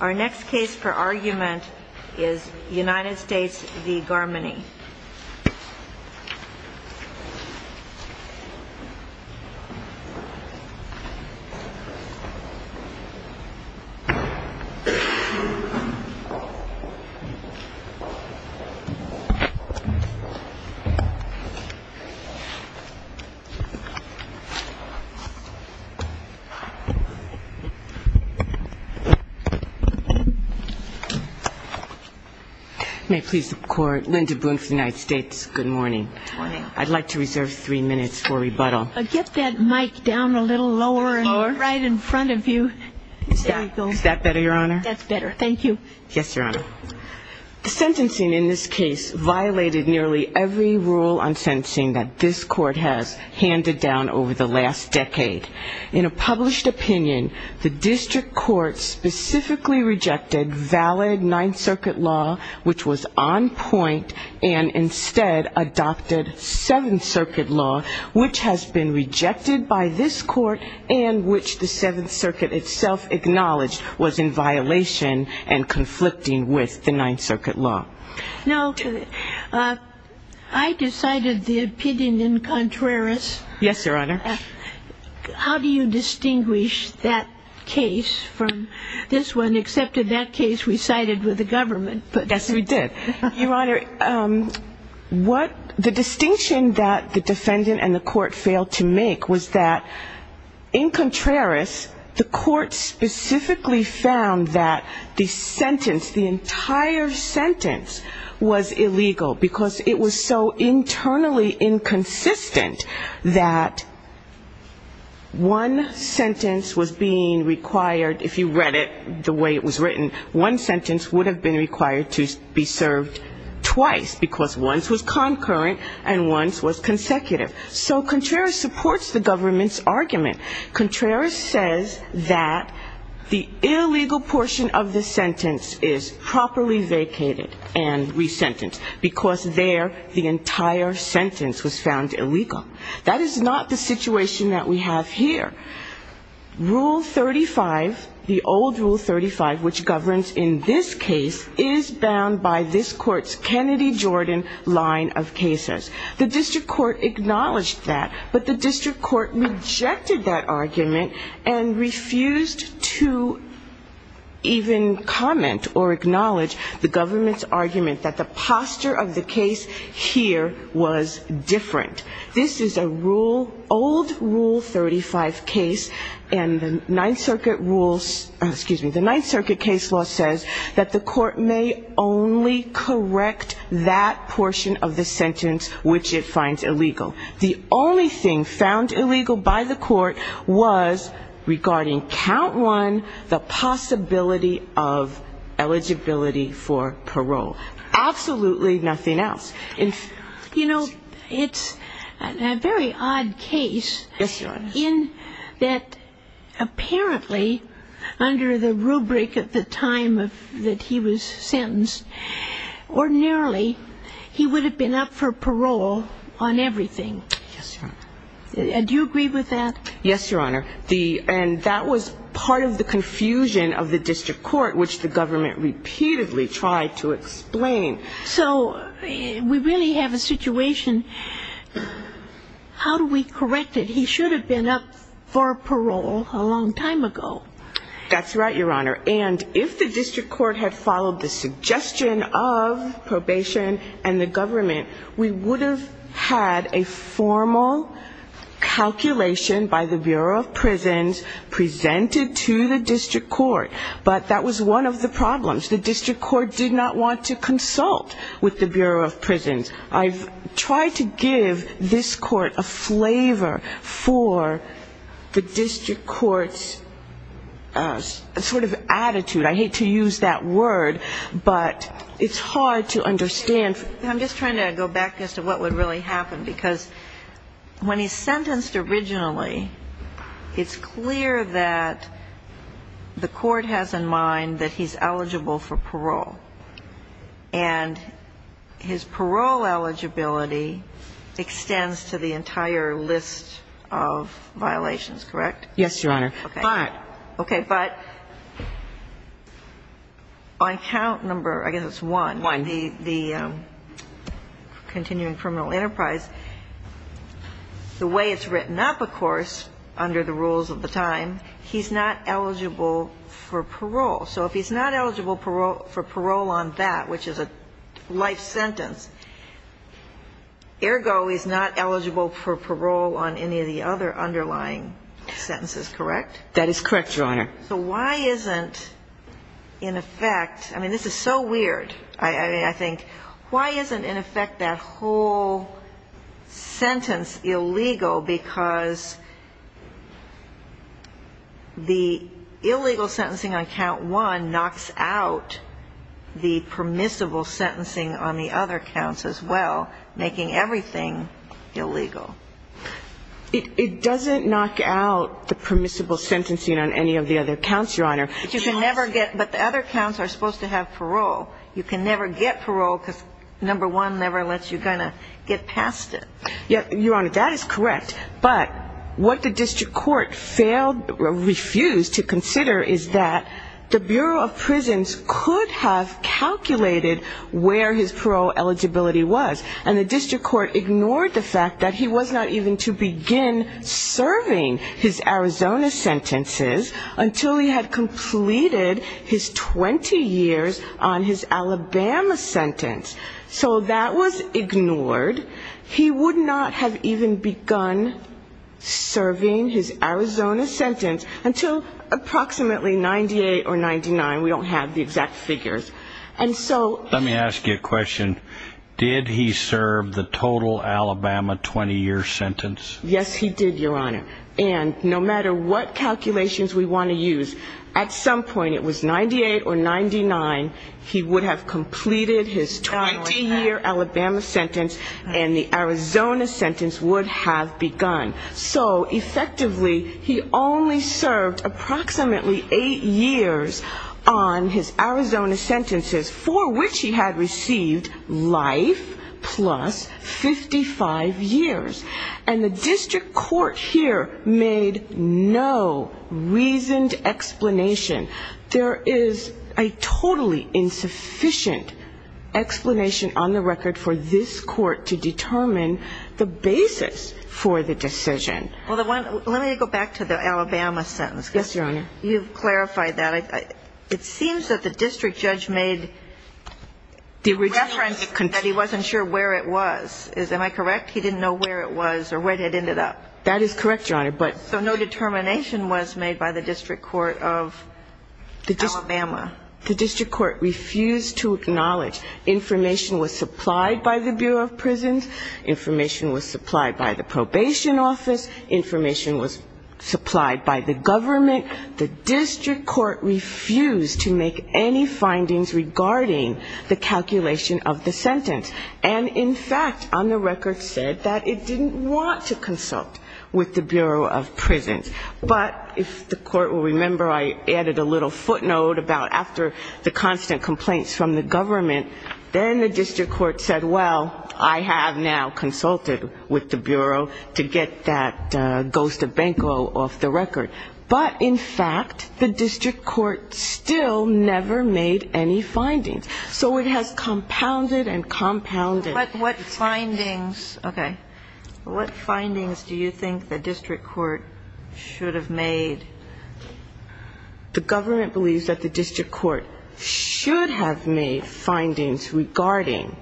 Our next case for argument is United States v. Garmany May it please the Court, Linda Boone for the United States. Good morning. I'd like to reserve three minutes for rebuttal. Get that mic down a little lower and right in front of you. Is that better, Your Honor? That's better. Thank you. Yes, Your Honor. The sentencing in this case violated nearly every rule on sentencing that this Court has handed down over the last decade. In a published opinion, the District Court specifically rejected valid Ninth Circuit law, which was on point, and instead adopted Seventh Circuit law, which has been rejected by this Court and which the Seventh Circuit itself acknowledged was in violation and conflicting with the Ninth Circuit law. Now, I decided the opinion in contrarious. Yes, Your Honor. How do you distinguish that case from this one, except in that case we sided with the government? Yes, we did. Your Honor, what the distinction that the defendant and the Court failed to make was that in contrarious, the Court specifically found that the sentence, the entire sentence, was illegal because it was so internally inconsistent that one sentence was being required, if you read it the way it was written, one sentence would have been required to be served twice because one was concurrent and one was consecutive. So contrarious supports the government's argument. Contrarious says that the illegal portion of the sentence is properly vacated and resentenced because there the entire sentence was found illegal. That is not the situation that we have here. Rule 35, the old Rule 35, which governs in this case, is bound by this Court's Kennedy-Jordan line of cases. The district court acknowledged that, but the district court rejected that argument and refused to even comment or acknowledge the government's argument that the posture of the case here was different. This is a rule, old Rule 35 case, and the Ninth Circuit rules, excuse me, the Ninth Circuit case law says that the Court may only correct that portion of the sentence which it finds illegal. The only thing found illegal by the Court was, regarding count one, the possibility of eligibility for parole. Absolutely nothing else. You know, it's a very odd case in that apparently under the rubric at the time that he was sentenced, ordinarily he would have been up for parole on everything. Yes, Your Honor. Do you agree with that? Yes, Your Honor, and that was part of the confusion of the district court, which the government repeatedly tried to explain. So we really have a situation, how do we correct it? He should have been up for parole a long time ago. That's right, Your Honor, and if the district court had followed the suggestion of probation and the government, we would have had a formal calculation by the Bureau of Prisons presented to the district court, but that was one of the problems. The district court did not want to consult with the Bureau of Prisons. I've tried to give this court a flavor for the district court's sort of attitude. I hate to use that word, but it's hard to understand. I'm just trying to go back as to what would really happen because when he's sentenced originally, it's clear that the court has in mind that he's eligible for parole, and his parole eligibility extends to the entire list of violations, correct? Yes, Your Honor. Okay. But. Okay. But on count number, I guess it's one. One. The way it's written up, of course, under the rules of the time, he's not eligible for parole. So if he's not eligible for parole on that, which is a life sentence, ergo he's not eligible for parole on any of the other underlying sentences, correct? That is correct, Your Honor. So why isn't, in effect, I mean, this is so weird. I think, why isn't, in effect, that whole sentence illegal because the illegal sentencing on count one knocks out the permissible sentencing on the other counts as well, making everything illegal? It doesn't knock out the permissible sentencing on any of the other counts, Your Honor. But the other counts are supposed to have parole. You can never get parole because number one never lets you get past it. Your Honor, that is correct. But what the district court refused to consider is that the Bureau of Prisons could have calculated where his parole eligibility was, and the district court ignored the fact that he was not even to begin serving his Arizona sentences until he had completed his 20 years on his Alabama sentence. So that was ignored. He would not have even begun serving his Arizona sentence until approximately 98 or 99. We don't have the exact figures. And so he... Let me ask you a question. Did he serve the total Alabama 20-year sentence? Yes, he did, Your Honor. And no matter what calculations we want to use, at some point it was 98 or 99, he would have completed his 20-year Alabama sentence and the Arizona sentence would have begun. So effectively he only served approximately eight years on his Arizona sentences, for which he had received life plus 55 years. And the district court here made no reasoned explanation. There is a totally insufficient explanation on the record for this court to determine the basis for the decision. Well, let me go back to the Alabama sentence. Yes, Your Honor. You've clarified that. It seems that the district judge made reference that he wasn't sure where it was. Am I correct? He didn't know where it was or where it ended up. That is correct, Your Honor. So no determination was made by the district court of Alabama. The district court refused to acknowledge. Information was supplied by the Bureau of Prisons. Information was supplied by the probation office. Information was supplied by the government. The district court refused to make any findings regarding the calculation of the sentence. And, in fact, on the record said that it didn't want to consult with the Bureau of Prisons. But if the court will remember, I added a little footnote about after the constant complaints from the government, then the district court said, well, I have now consulted with the Bureau to get that ghost of Benko off the record. But, in fact, the district court still never made any findings. So it has compounded and compounded. What findings, okay, what findings do you think the district court should have made? The government believes that the district court should have made findings regarding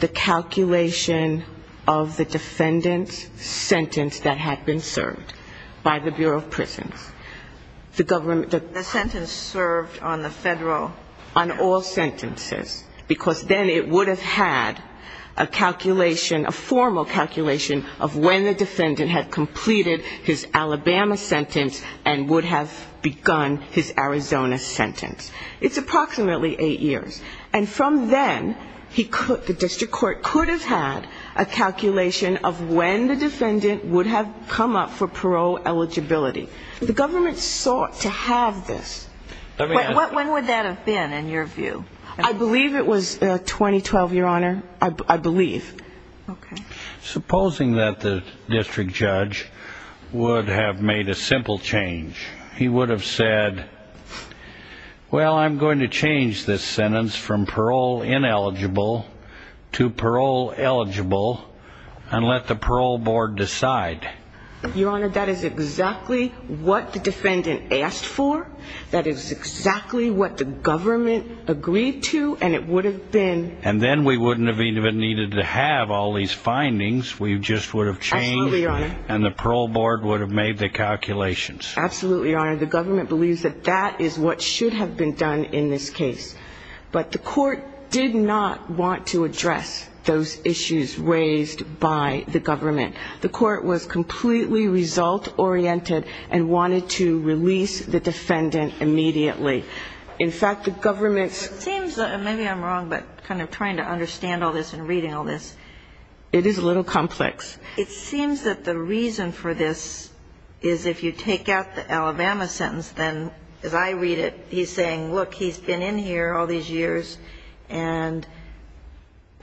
the calculation of the defendant's sentence that had been served by the Bureau of Prisons. The government the The sentence served on the federal On all sentences. Because then it would have had a calculation, a formal calculation of when the defendant had completed his Alabama sentence and would have begun his Arizona sentence. It's approximately eight years. And from then, the district court could have had a calculation of when the defendant would have come up for parole eligibility. The government sought to have this. When would that have been, in your view? I believe it was 2012, Your Honor. I believe. Okay. Supposing that the district judge would have made a simple change. He would have said, well, I'm going to change this sentence from parole ineligible to parole eligible and let the parole board decide. Your Honor, that is exactly what the defendant asked for. That is exactly what the government agreed to, and it would have been And then we wouldn't have even needed to have all these findings. We just would have changed Absolutely, Your Honor. And the parole board would have made the calculations. Absolutely, Your Honor. The government believes that that is what should have been done in this case. But the court did not want to address those issues raised by the government. The court was completely result-oriented and wanted to release the defendant immediately. In fact, the government It seems, and maybe I'm wrong, but kind of trying to understand all this and reading all this. It is a little complex. It seems that the reason for this is if you take out the Alabama sentence, then as I read it, he's saying, look, he's been in here all these years, and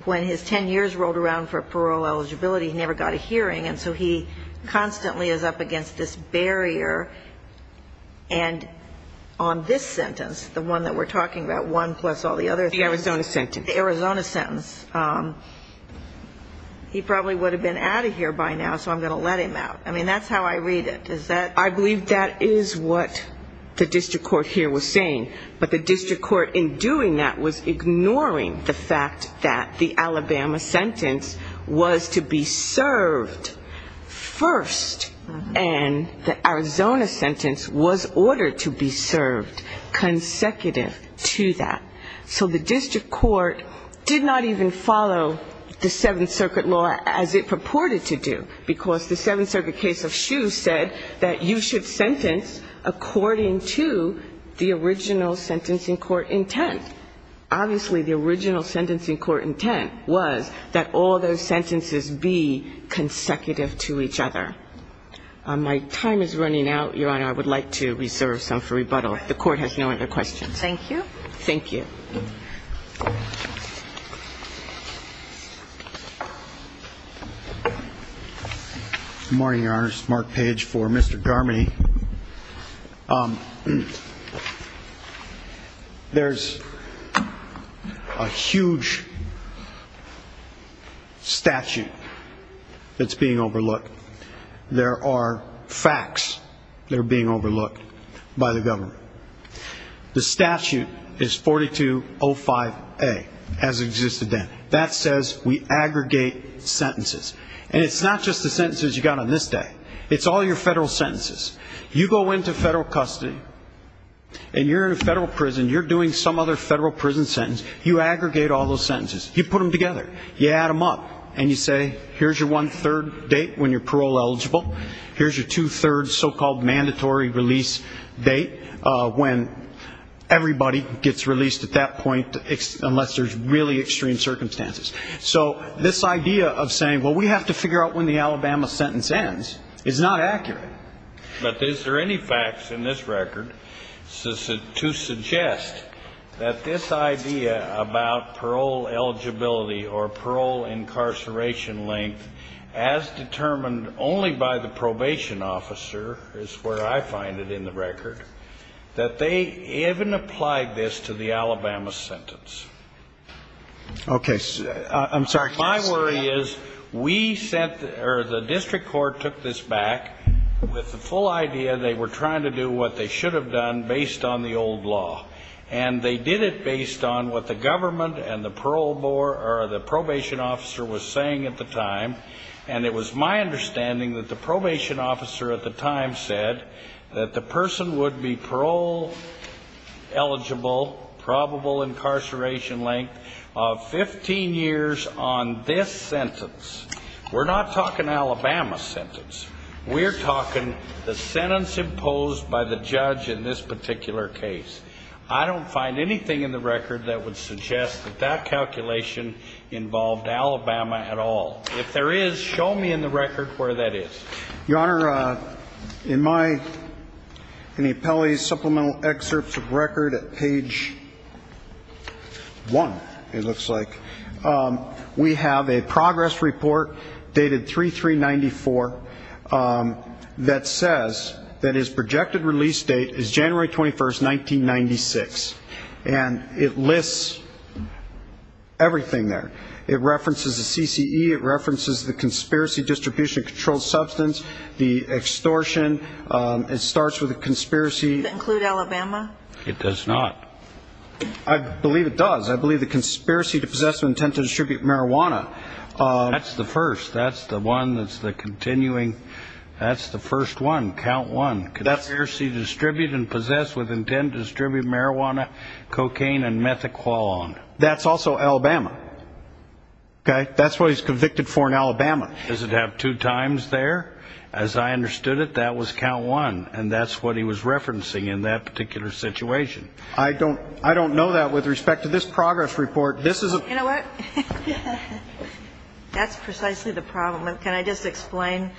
when his 10 years rolled around for parole eligibility, he never got a hearing. And so he constantly is up against this barrier. And on this sentence, the one that we're talking about, one plus all the other The Arizona sentence. The Arizona sentence, he probably would have been out of here by now, so I'm going to let him out. I mean, that's how I read it. I believe that is what the district court here was saying. But the district court in doing that was ignoring the fact that the Alabama sentence was to be served first, and the Arizona sentence was ordered to be served consecutive to that. So the district court did not even follow the Seventh Circuit law as it purported to do, because the Seventh Circuit case of Shue said that you should sentence according to the original sentencing court intent. Obviously, the original sentencing court intent was that all those sentences be consecutive to each other. My time is running out, Your Honor. I would like to reserve some for rebuttal. The court has no other questions. Thank you. Thank you. Thank you. Good morning, Your Honor. This is Mark Page for Mr. Darmody. There's a huge statute that's being overlooked. There are facts that are being overlooked by the government. The statute is 4205A, as existed then. That says we aggregate sentences. And it's not just the sentences you got on this day. It's all your federal sentences. You go into federal custody, and you're in a federal prison. You're doing some other federal prison sentence. You aggregate all those sentences. You put them together. You add them up. And you say, here's your one-third date when you're parole eligible. Here's your two-thirds, so-called mandatory release date, when everybody gets released at that point unless there's really extreme circumstances. So this idea of saying, well, we have to figure out when the Alabama sentence ends, is not accurate. But is there any facts in this record to suggest that this idea about parole eligibility or parole incarceration length, as determined only by the probation officer, is where I find it in the record, that they even applied this to the Alabama sentence? Okay. I'm sorry. My worry is we sent or the district court took this back with the full idea they were trying to do what they should have done based on the old law. And they did it based on what the government and the probation officer were saying at the time. And it was my understanding that the probation officer at the time said that the person would be parole eligible, probable incarceration length of 15 years on this sentence. We're not talking Alabama sentence. We're talking the sentence imposed by the judge in this particular case. I don't find anything in the record that would suggest that that calculation involved Alabama at all. If there is, show me in the record where that is. Your Honor, in my, in the appellee's supplemental excerpts of record at page one, it looks like, we have a progress report dated 3394 that says that his projected release date is January 21st, 1996. And it lists everything there. It references the CCE. It references the conspiracy distribution of controlled substance, the extortion. It starts with a conspiracy. Does that include Alabama? It does not. I believe it does. I believe the conspiracy to possess with intent to distribute marijuana. That's the first. That's the one that's the continuing. That's the first one, count one. Conspiracy to distribute and possess with intent to distribute marijuana, cocaine, and methoqualone. That's also Alabama. Okay? That's what he's convicted for in Alabama. Does it have two times there? As I understood it, that was count one. And that's what he was referencing in that particular situation. I don't know that with respect to this progress report. You know what? That's precisely the problem. Can I just explain?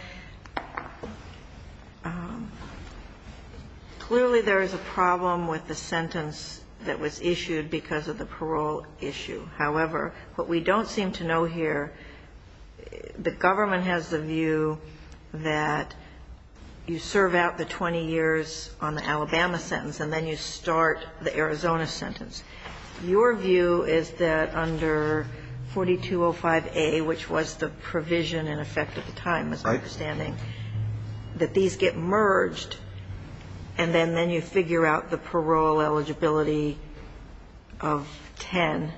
Clearly there is a problem with the sentence that was issued because of the parole issue. However, what we don't seem to know here, the government has the view that you serve out the 20 years on the Arizona sentence. Your view is that under 4205A, which was the provision in effect at the time, as I'm understanding, that these get merged and then you figure out the parole eligibility of 10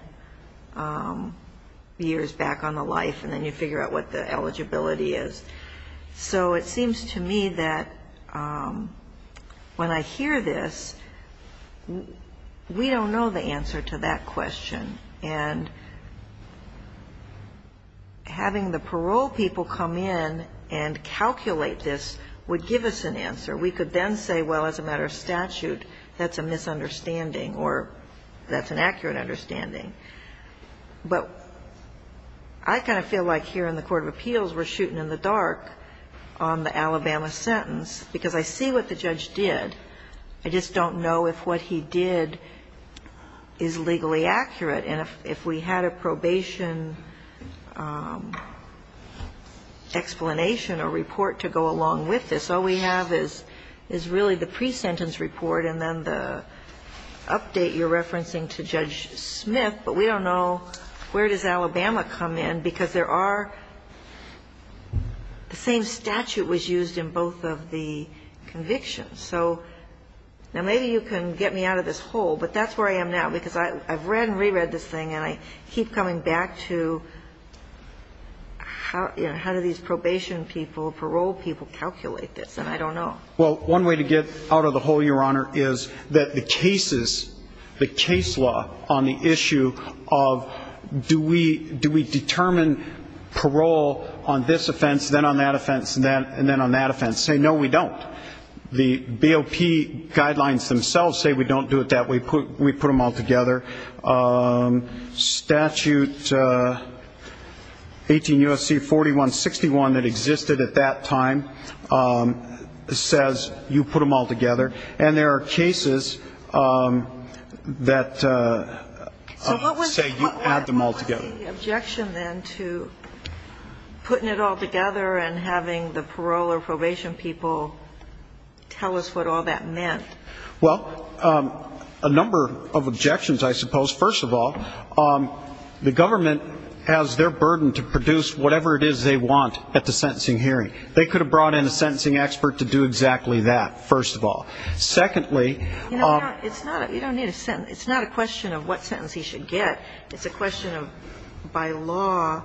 years back on the life and then you figure out what the eligibility is. So it seems to me that when I hear this, we don't know the answer to that question. And having the parole people come in and calculate this would give us an answer. We could then say, well, as a matter of statute, that's a misunderstanding or that's an accurate understanding. But I kind of feel like here in the court of appeals we're shooting in the dark on the Alabama sentence because I see what the judge did. I just don't know if what he did is legally accurate. And if we had a probation explanation or report to go along with this, all we have is really the pre-sentence report and then the pre-sentence report. So I don't know if that's what he did. But we don't know where does Alabama come in because there are the same statute was used in both of the convictions. So now maybe you can get me out of this hole, but that's where I am now because I've read and reread this thing and I keep coming back to how do these probation people, parole people calculate this. And I don't know. Well, one way to get out of the hole, Your Honor, is that the cases, the case law on the issue of do we determine parole on this offense, then on that offense, and then on that offense, say no, we don't. The BOP guidelines themselves say we don't do it that way. We put them all together. Statute 18 U.S.C. 4161 that existed at that time says you put them all together. And there are cases that say you add them all together. So what was the objection then to putting it all together and having the parole or probation people tell us what all that meant? Well, a number of objections, I suppose. First of all, the government has their burden to produce whatever it is they want at the sentencing hearing. They could have brought in a sentencing expert to do exactly that, first of all. Secondly, it's not a question of what sentence he should get. It's a question of by law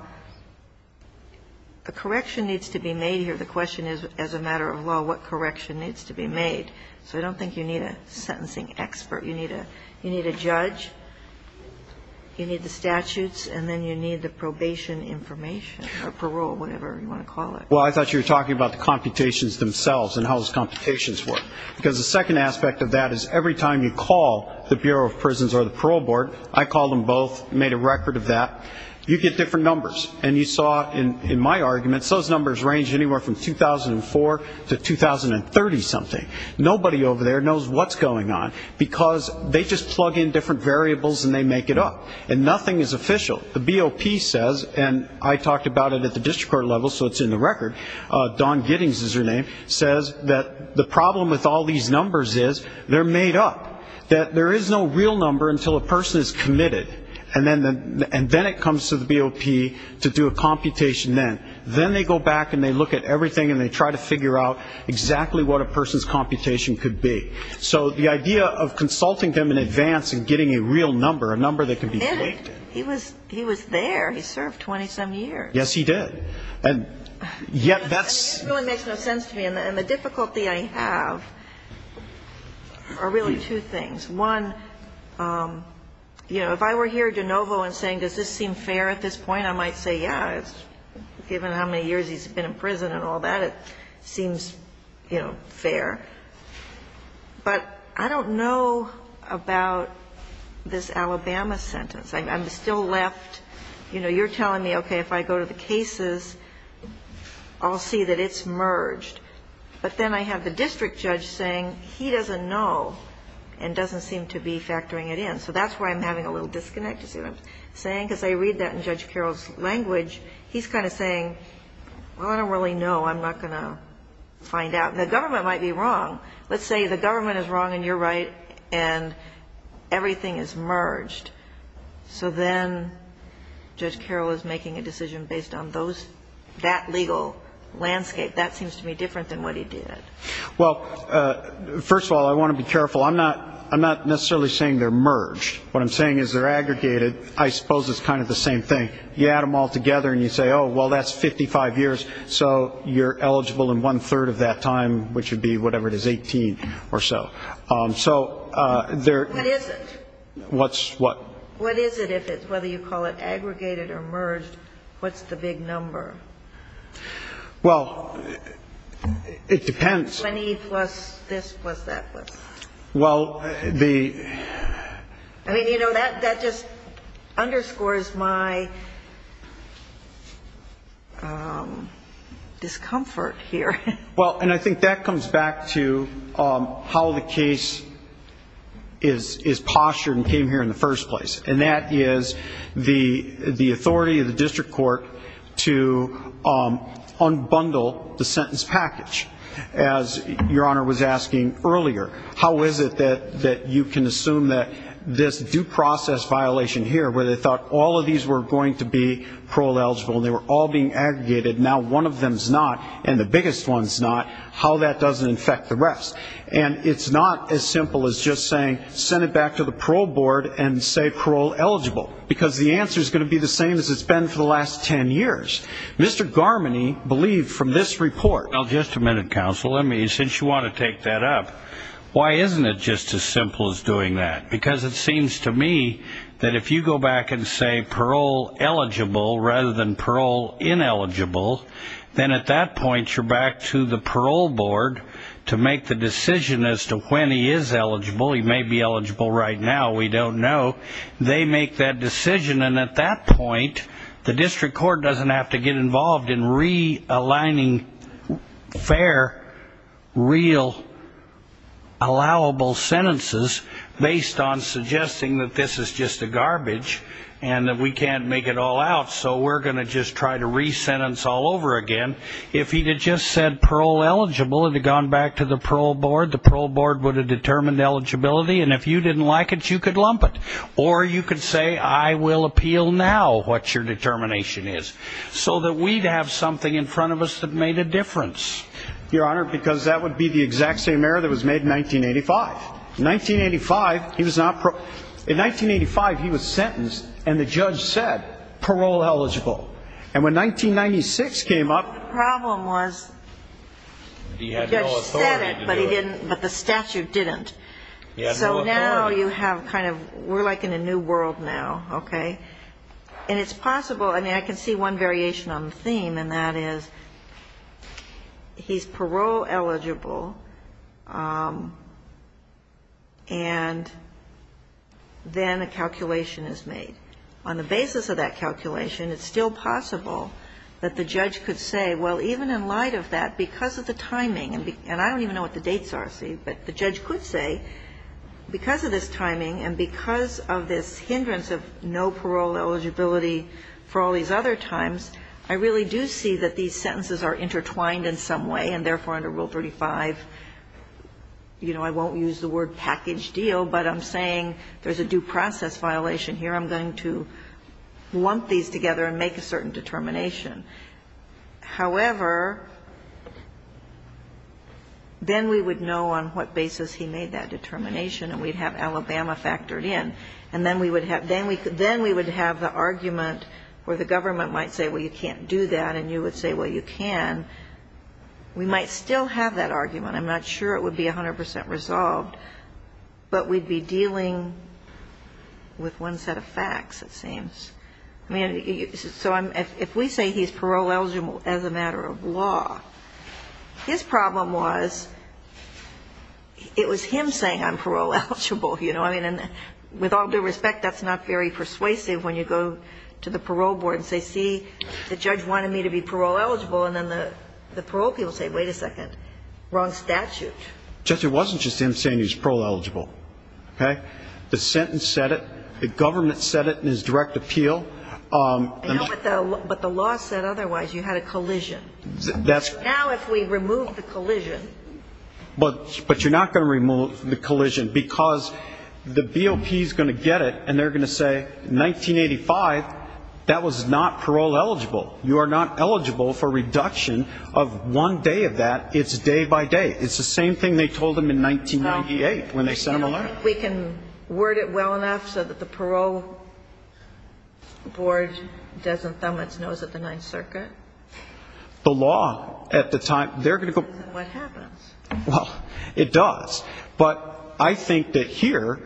a correction needs to be made here. The question is as a matter of law what correction needs to be made. So I don't think you need a sentencing expert. You need a judge. You need the statutes. And then you need the probation information or parole, whatever you want to call it. Well, I thought you were talking about the computations themselves and how those computations work. Because the second aspect of that is every time you call the Bureau of Prisons or the Parole Board, I called them both, made a record of that, you get different numbers. And you saw in my arguments those numbers range anywhere from 2004 to 2030-something. Nobody over there knows what's going on because they just plug in different variables and they make it up. And nothing is official. The BOP says, and I talked about it at the district court level so it's in the record, Dawn Giddings is her name, says that the problem with all these numbers is they're made up, and then it comes to the BOP to do a computation then. Then they go back and they look at everything and they try to figure out exactly what a person's computation could be. So the idea of consulting them in advance and getting a real number, a number that can be faked. He was there. He served 27 years. Yes, he did. And yet that's ‑‑ It really makes no sense to me. And the difficulty I have are really two things. One, you know, if I were here de novo and saying does this seem fair at this point, I might say, yeah, given how many years he's been in prison and all that, it seems, you know, fair. But I don't know about this Alabama sentence. I'm still left, you know, you're telling me, okay, if I go to the cases, I'll see that it's merged. But then I have the district judge saying he doesn't know and doesn't seem to be factoring it in. So that's why I'm having a little disconnect, you see what I'm saying? Because I read that in Judge Carroll's language. He's kind of saying, well, I don't really know. I'm not going to find out. The government might be wrong. Let's say the government is wrong and you're right and everything is merged. So then Judge Carroll is making a decision based on those ‑‑ that legal landscape. That seems to be different than what he did. Well, first of all, I want to be careful. I'm not necessarily saying they're merged. What I'm saying is they're aggregated. I suppose it's kind of the same thing. You add them all together and you say, oh, well, that's 55 years. So you're eligible in one‑third of that time, which would be whatever it is, 18 or so. So there ‑‑ What is it? What's what? What is it if it's, whether you call it aggregated or merged, what's the big number? Well, it depends. 20 plus this plus that plus. Well, the ‑‑ I mean, you know, that just underscores my discomfort here. Well, and I think that comes back to how the case is postured and came here in the first place. And that is the authority of the district court to unbundle the sentence package. As Your Honor was asking earlier, how is it that you can assume that this due process violation here, where they thought all of these were going to be parole eligible and they were all being aggregated, now one of them is not and the biggest one is not, how that doesn't affect the rest. And it's not as simple as just saying send it back to the parole board and say parole eligible. Because the answer is going to be the same as it's been for the last ten years. Mr. Garmany believed from this report. Well, just a minute, counsel. Since you want to take that up, why isn't it just as simple as doing that? Because it seems to me that if you go back and say parole eligible rather than parole ineligible, then at that point you're back to the parole board to make the decision as to when he is eligible. He may be eligible right now, we don't know. They make that decision, and at that point, the district court doesn't have to get involved in realigning fair, real, allowable sentences based on suggesting that this is just a garbage and that we can't make it all out. So we're going to just try to re-sentence all over again. If he had just said parole eligible and had gone back to the parole board, the parole board would have determined eligibility, and if you didn't like it, you could lump it. Or you could say I will appeal now what your determination is. So that we'd have something in front of us that made a difference. Your Honor, because that would be the exact same error that was made in 1985. In 1985, he was sentenced, and the judge said parole eligible. And when 1996 came up... The problem was the judge said it, but the statute didn't. So now you have kind of, we're like in a new world now, okay? And it's possible, I mean, I can see one variation on the theme, and that is he's parole eligible, and then a calculation is made. On the basis of that calculation, it's still possible that the judge could say, well, even in light of that, because of the timing, and I don't even know what the dates are, see, but the judge could say because of this timing and because of this hindrance of no parole eligibility for all these other times, I really do see that these sentences are intertwined in some way, and therefore under Rule 35, you know, I won't use the word package deal, but I'm saying there's a due process violation here. I'm going to lump these together and make a certain determination. However, then we would know on what basis he made that determination, and we'd have Alabama factored in. And then we would have the argument where the government might say, well, you can't do that, and you would say, well, you can. We might still have that argument. I'm not sure it would be 100% resolved, but we'd be dealing with one set of facts, it seems. So if we say he's parole eligible as a matter of law, his problem was it was him saying I'm parole eligible, you know, I mean, and with all due respect, that's not very persuasive when you go to the parole board and say, see, the judge wanted me to be parole eligible, and then the parole people say, wait a second, wrong statute. Judge, it wasn't just him saying he's parole eligible. Okay? The sentence said it. The government said it in his direct appeal. I know, but the law said otherwise. You had a collision. Now if we remove the collision. But you're not going to remove the collision because the BOP is going to get it, and they're going to say in 1985 that was not parole eligible. You are not eligible for reduction of one day of that. It's day by day. It's the same thing they told them in 1998 when they sent them a letter. We can word it well enough so that the parole board doesn't thumb its nose at the Ninth Circuit. The law at the time, they're going to go. Well, it does. But I think that here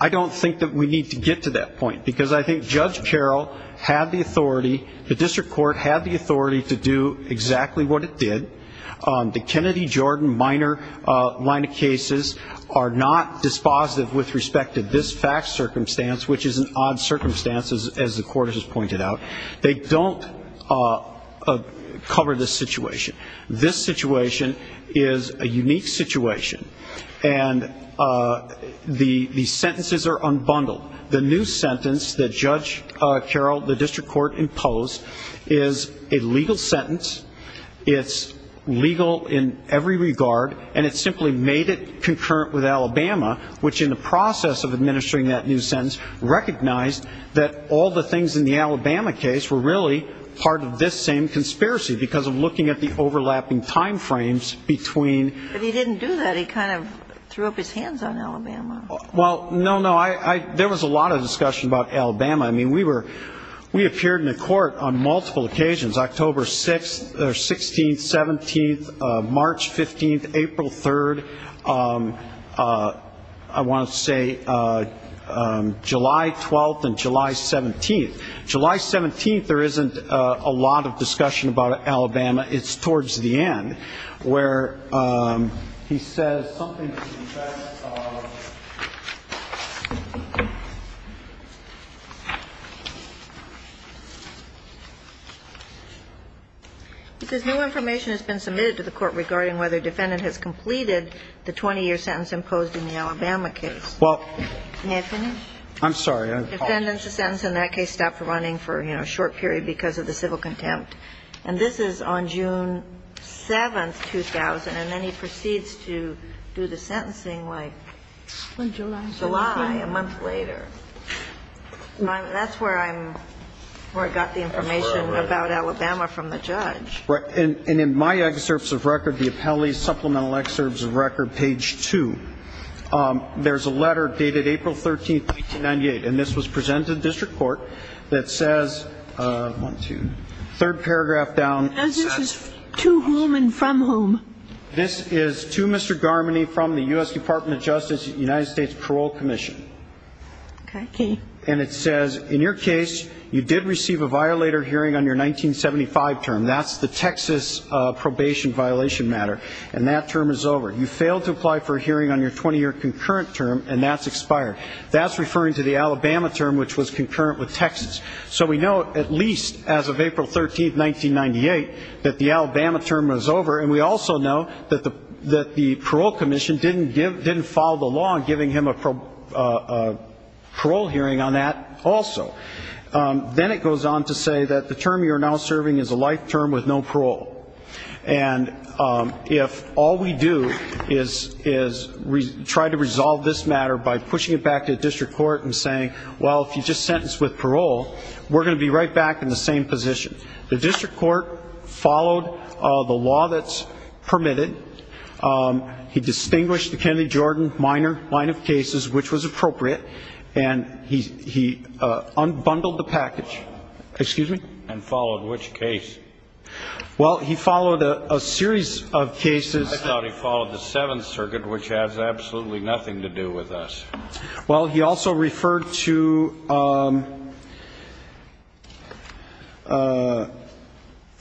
I don't think that we need to get to that point, because I think Judge Carroll had the authority, the district court had the authority to do exactly what it did. The Kennedy-Jordan minor line of cases are not dispositive with respect to this fact circumstance, which is an odd circumstance, as the court has pointed out. They don't cover this situation. This situation is a unique situation, and the sentences are unbundled. The new sentence that Judge Carroll, the district court, imposed is a legal sentence. It's legal in every regard, and it simply made it concurrent with Alabama, which in the process of administering that new sentence recognized that all the things in the Alabama case were really part of this same conspiracy because of looking at the overlapping time frames between. But he didn't do that. He kind of threw up his hands on Alabama. Well, no, no. There was a lot of discussion about Alabama. I mean, we appeared in the court on multiple occasions, October 6th or 16th, 17th, March 15th, April 3rd. I want to say July 12th and July 17th. July 17th, there isn't a lot of discussion about Alabama. It's towards the end where he says something to the effect of. Because no information has been submitted to the court regarding whether a defendant has completed the 20-year sentence imposed in the Alabama case. Well. May I finish? I'm sorry. Defendant's sentence in that case stopped running for a short period because of the civil contempt. And this is on June 7th, 2000. And then he proceeds to do the sentencing like July, a month later. That's where I got the information about Alabama from the judge. Right. And in my excerpts of record, the appellee's supplemental excerpts of record, page 2, there's a letter dated April 13th, 1998. And this was presented to the district court that says, one, two, third paragraph down. And this is to whom and from whom? This is to Mr. Garmany from the U.S. Department of Justice United States Parole Commission. Okay. And it says, in your case, you did receive a violator hearing on your 1975 term. That's the Texas probation violation matter. And that term is over. You failed to apply for a hearing on your 20-year concurrent term, and that's expired. That's referring to the Alabama term, which was concurrent with Texas. So we know, at least as of April 13th, 1998, that the Alabama term was over, and we also know that the parole commission didn't follow the law on giving him a parole hearing on that also. Then it goes on to say that the term you are now serving is a life term with no parole. And if all we do is try to resolve this matter by pushing it back to the district court and saying, well, if you just sentence with parole, we're going to be right back in the same position. The district court followed the law that's permitted. He distinguished the Kennedy-Jordan minor line of cases, which was appropriate, and he unbundled the package. Excuse me? And followed which case? Well, he followed a series of cases. I thought he followed the Seventh Circuit, which has absolutely nothing to do with us. Well, he also referred to a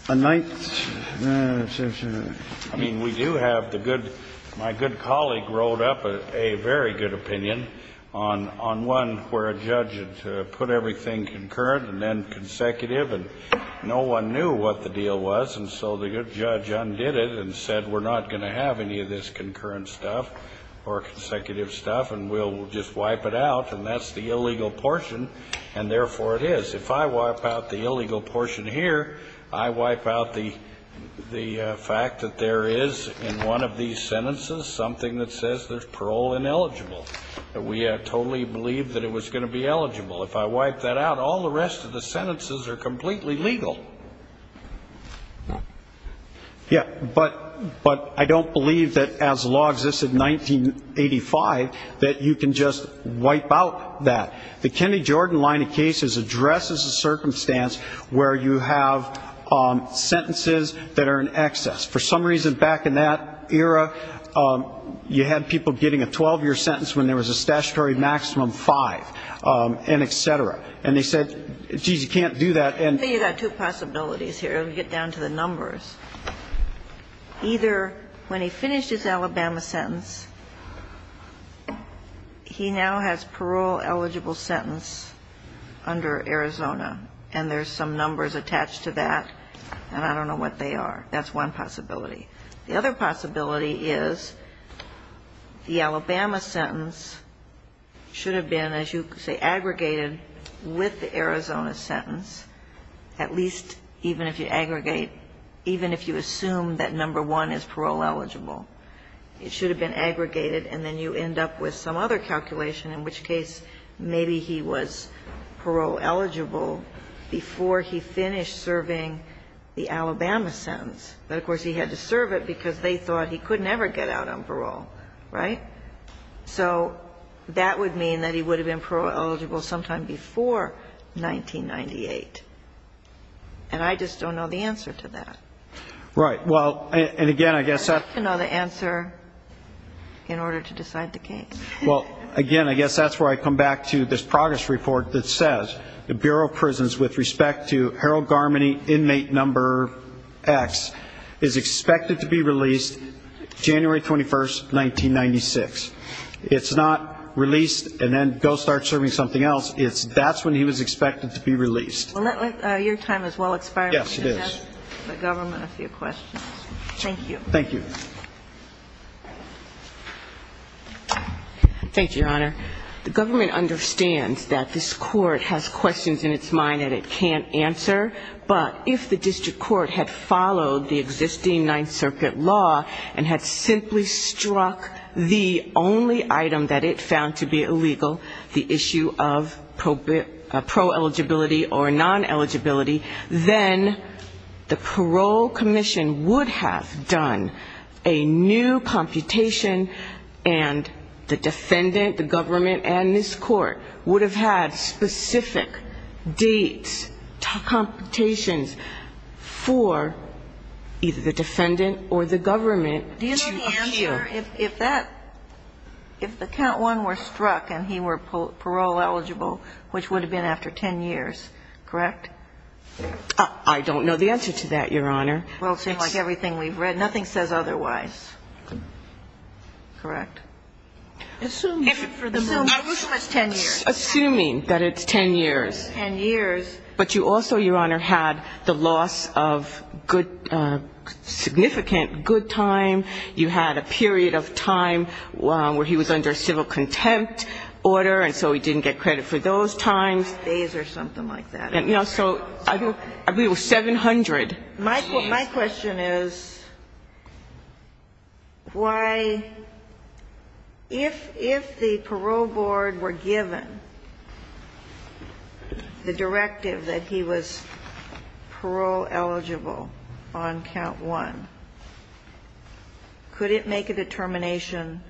ninth. I mean, we do have the good my good colleague wrote up a very good opinion on one where a judge put everything concurrent and then consecutive, and no one knew what the deal was, and so the judge undid it and said we're not going to have any of this concurrent stuff or consecutive stuff, and we'll just wipe it out, and that's the illegal portion, and therefore it is. If I wipe out the illegal portion here, I wipe out the fact that there is in one of these sentences something that says there's parole ineligible. We totally believed that it was going to be eligible. If I wipe that out, all the rest of the sentences are completely legal. Yeah, but I don't believe that as law existed in 1985 that you can just wipe out that. The Kennedy-Jordan line of cases addresses a circumstance where you have sentences that are in excess. For some reason back in that era, you had people getting a 12-year sentence when there was a statutory maximum five, and et cetera, and they said, geez, you can't do that. You've got two possibilities here. Let me get down to the numbers. Either when he finished his Alabama sentence, he now has parole-eligible sentence under Arizona, and there's some numbers attached to that, and I don't know what they are. That's one possibility. The other possibility is the Alabama sentence should have been, as you say, aggregated with the Arizona sentence, at least even if you aggregate, even if you assume that number one is parole-eligible. It should have been aggregated, and then you end up with some other calculation, in which case maybe he was parole-eligible before he finished serving the Alabama sentence, but of course he had to serve it because they thought he could never get out on parole, right? So that would mean that he would have been parole-eligible sometime before 1998, and I just don't know the answer to that. Right. Well, and again, I guess that's... I'd like to know the answer in order to decide the case. Well, again, I guess that's where I come back to this progress report that says the Bureau of Prisons, with respect to Harold Garmany, inmate number X, is expected to be released January 21, 1996. It's not released and then go start serving something else. That's when he was expected to be released. Well, your time has well expired. Yes, it is. We have the government a few questions. Thank you. Thank you. Thank you, Your Honor. The government understands that this court has questions in its mind that it can't answer, but if the district court had followed the existing Ninth Circuit law and had simply struck the only item that it found to be illegal, the issue of pro-eligibility or non-eligibility, then the parole commission would have done a new computation and the defendant, the government, and this court would have had specific dates, computations for either the defendant or the government to appeal. Do you know the answer? If that, if the count one were struck and he were parole eligible, which would have been after 10 years, correct? I don't know the answer to that, Your Honor. Well, it seems like everything we've read, nothing says otherwise. Correct? Assuming for the most part. Assuming it's 10 years. Assuming that it's 10 years. 10 years. But you also, Your Honor, had the loss of significant good time. You had a period of time where he was under civil contempt order, and so he didn't get credit for those times. Days or something like that. You know, so I believe it was 700. My question is why, if the parole board were given the directive that he was parole eligible on count one, could it make a determination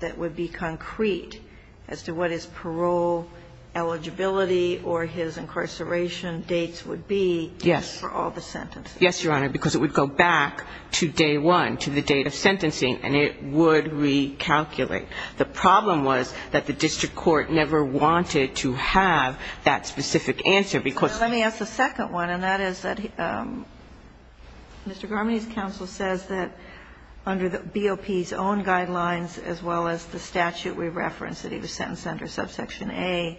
that would be concrete as to what his parole eligibility or his incarceration dates would be for all the sentences? Yes, Your Honor, because it would go back to day one, to the date of sentencing, and it would recalculate. The problem was that the district court never wanted to have that specific answer because he was parole eligible. Mr. Garmini's counsel says that under BOP's own guidelines, as well as the statute we referenced that he was sentenced under subsection A,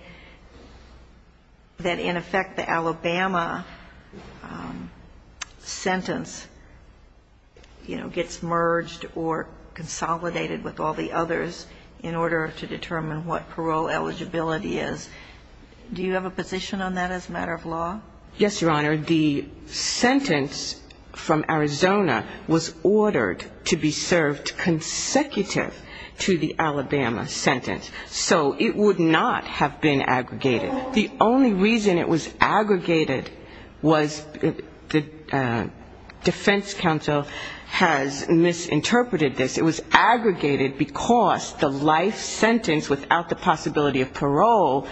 that in effect the Alabama sentence, you know, gets merged or consolidated with all the others in order to determine what parole eligibility is. Do you have a position on that as a matter of law? Yes, Your Honor. The sentence from Arizona was ordered to be served consecutive to the Alabama sentence. So it would not have been aggregated. The only reason it was aggregated was the defense counsel has misinterpreted this. It was aggregated because the life sentence without the possibility of parole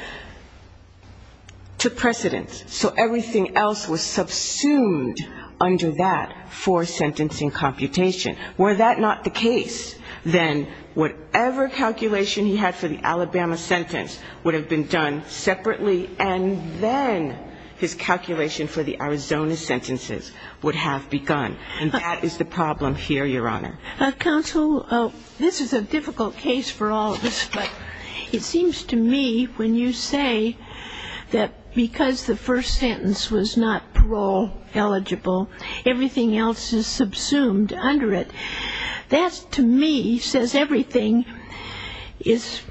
took precedence. So everything else was subsumed under that four-sentencing computation. Were that not the case, then whatever calculation he had for the Alabama sentence would have been done separately, and then his calculation for the Arizona sentences would have begun. And that is the problem here, Your Honor. It seems to me when you say that because the first sentence was not parole eligible, everything else is subsumed under it, that to me says everything is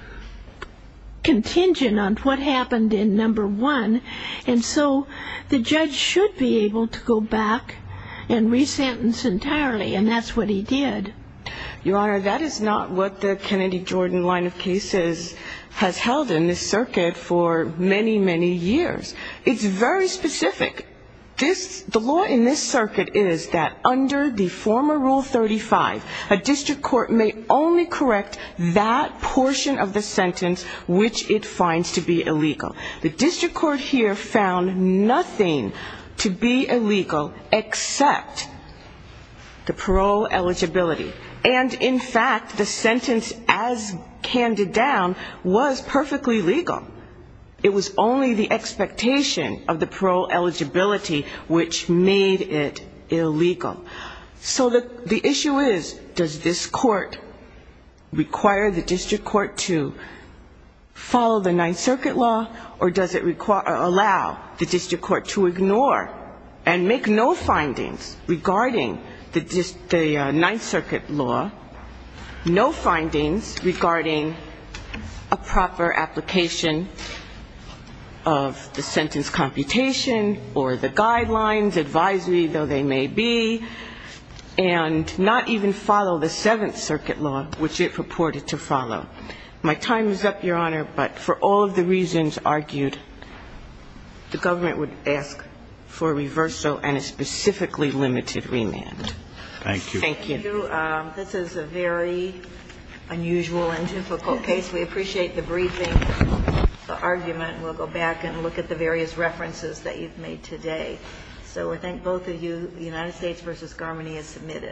contingent on what happened in number one. And so the judge should be able to go back and resentence entirely, and that's what he did. Your Honor, that is not what the Kennedy-Jordan line of cases has held in this circuit for many, many years. It's very specific. The law in this circuit is that under the former Rule 35, a district court may only correct that portion of the sentence which it finds to be illegal. The district court here found nothing to be illegal except the parole eligibility. And, in fact, the sentence as handed down was perfectly legal. It was only the expectation of the parole eligibility which made it illegal. So the issue is, does this court require the district court to follow the Ninth Circuit law, or does it allow the district court to ignore and make no findings regarding the Ninth Circuit law, no findings regarding a proper application of the sentence computation or the guidelines, advisory, though they may be, and not even follow the Seventh Circuit law which it purported to follow? My time is up, Your Honor, but for all of the reasons argued, the government would ask for reverso and a specifically limited remand. Thank you. Thank you. This is a very unusual and difficult case. We appreciate the briefing, the argument. We'll go back and look at the various references that you've made today. So I thank both of you. The United States v. Garmany is submitted.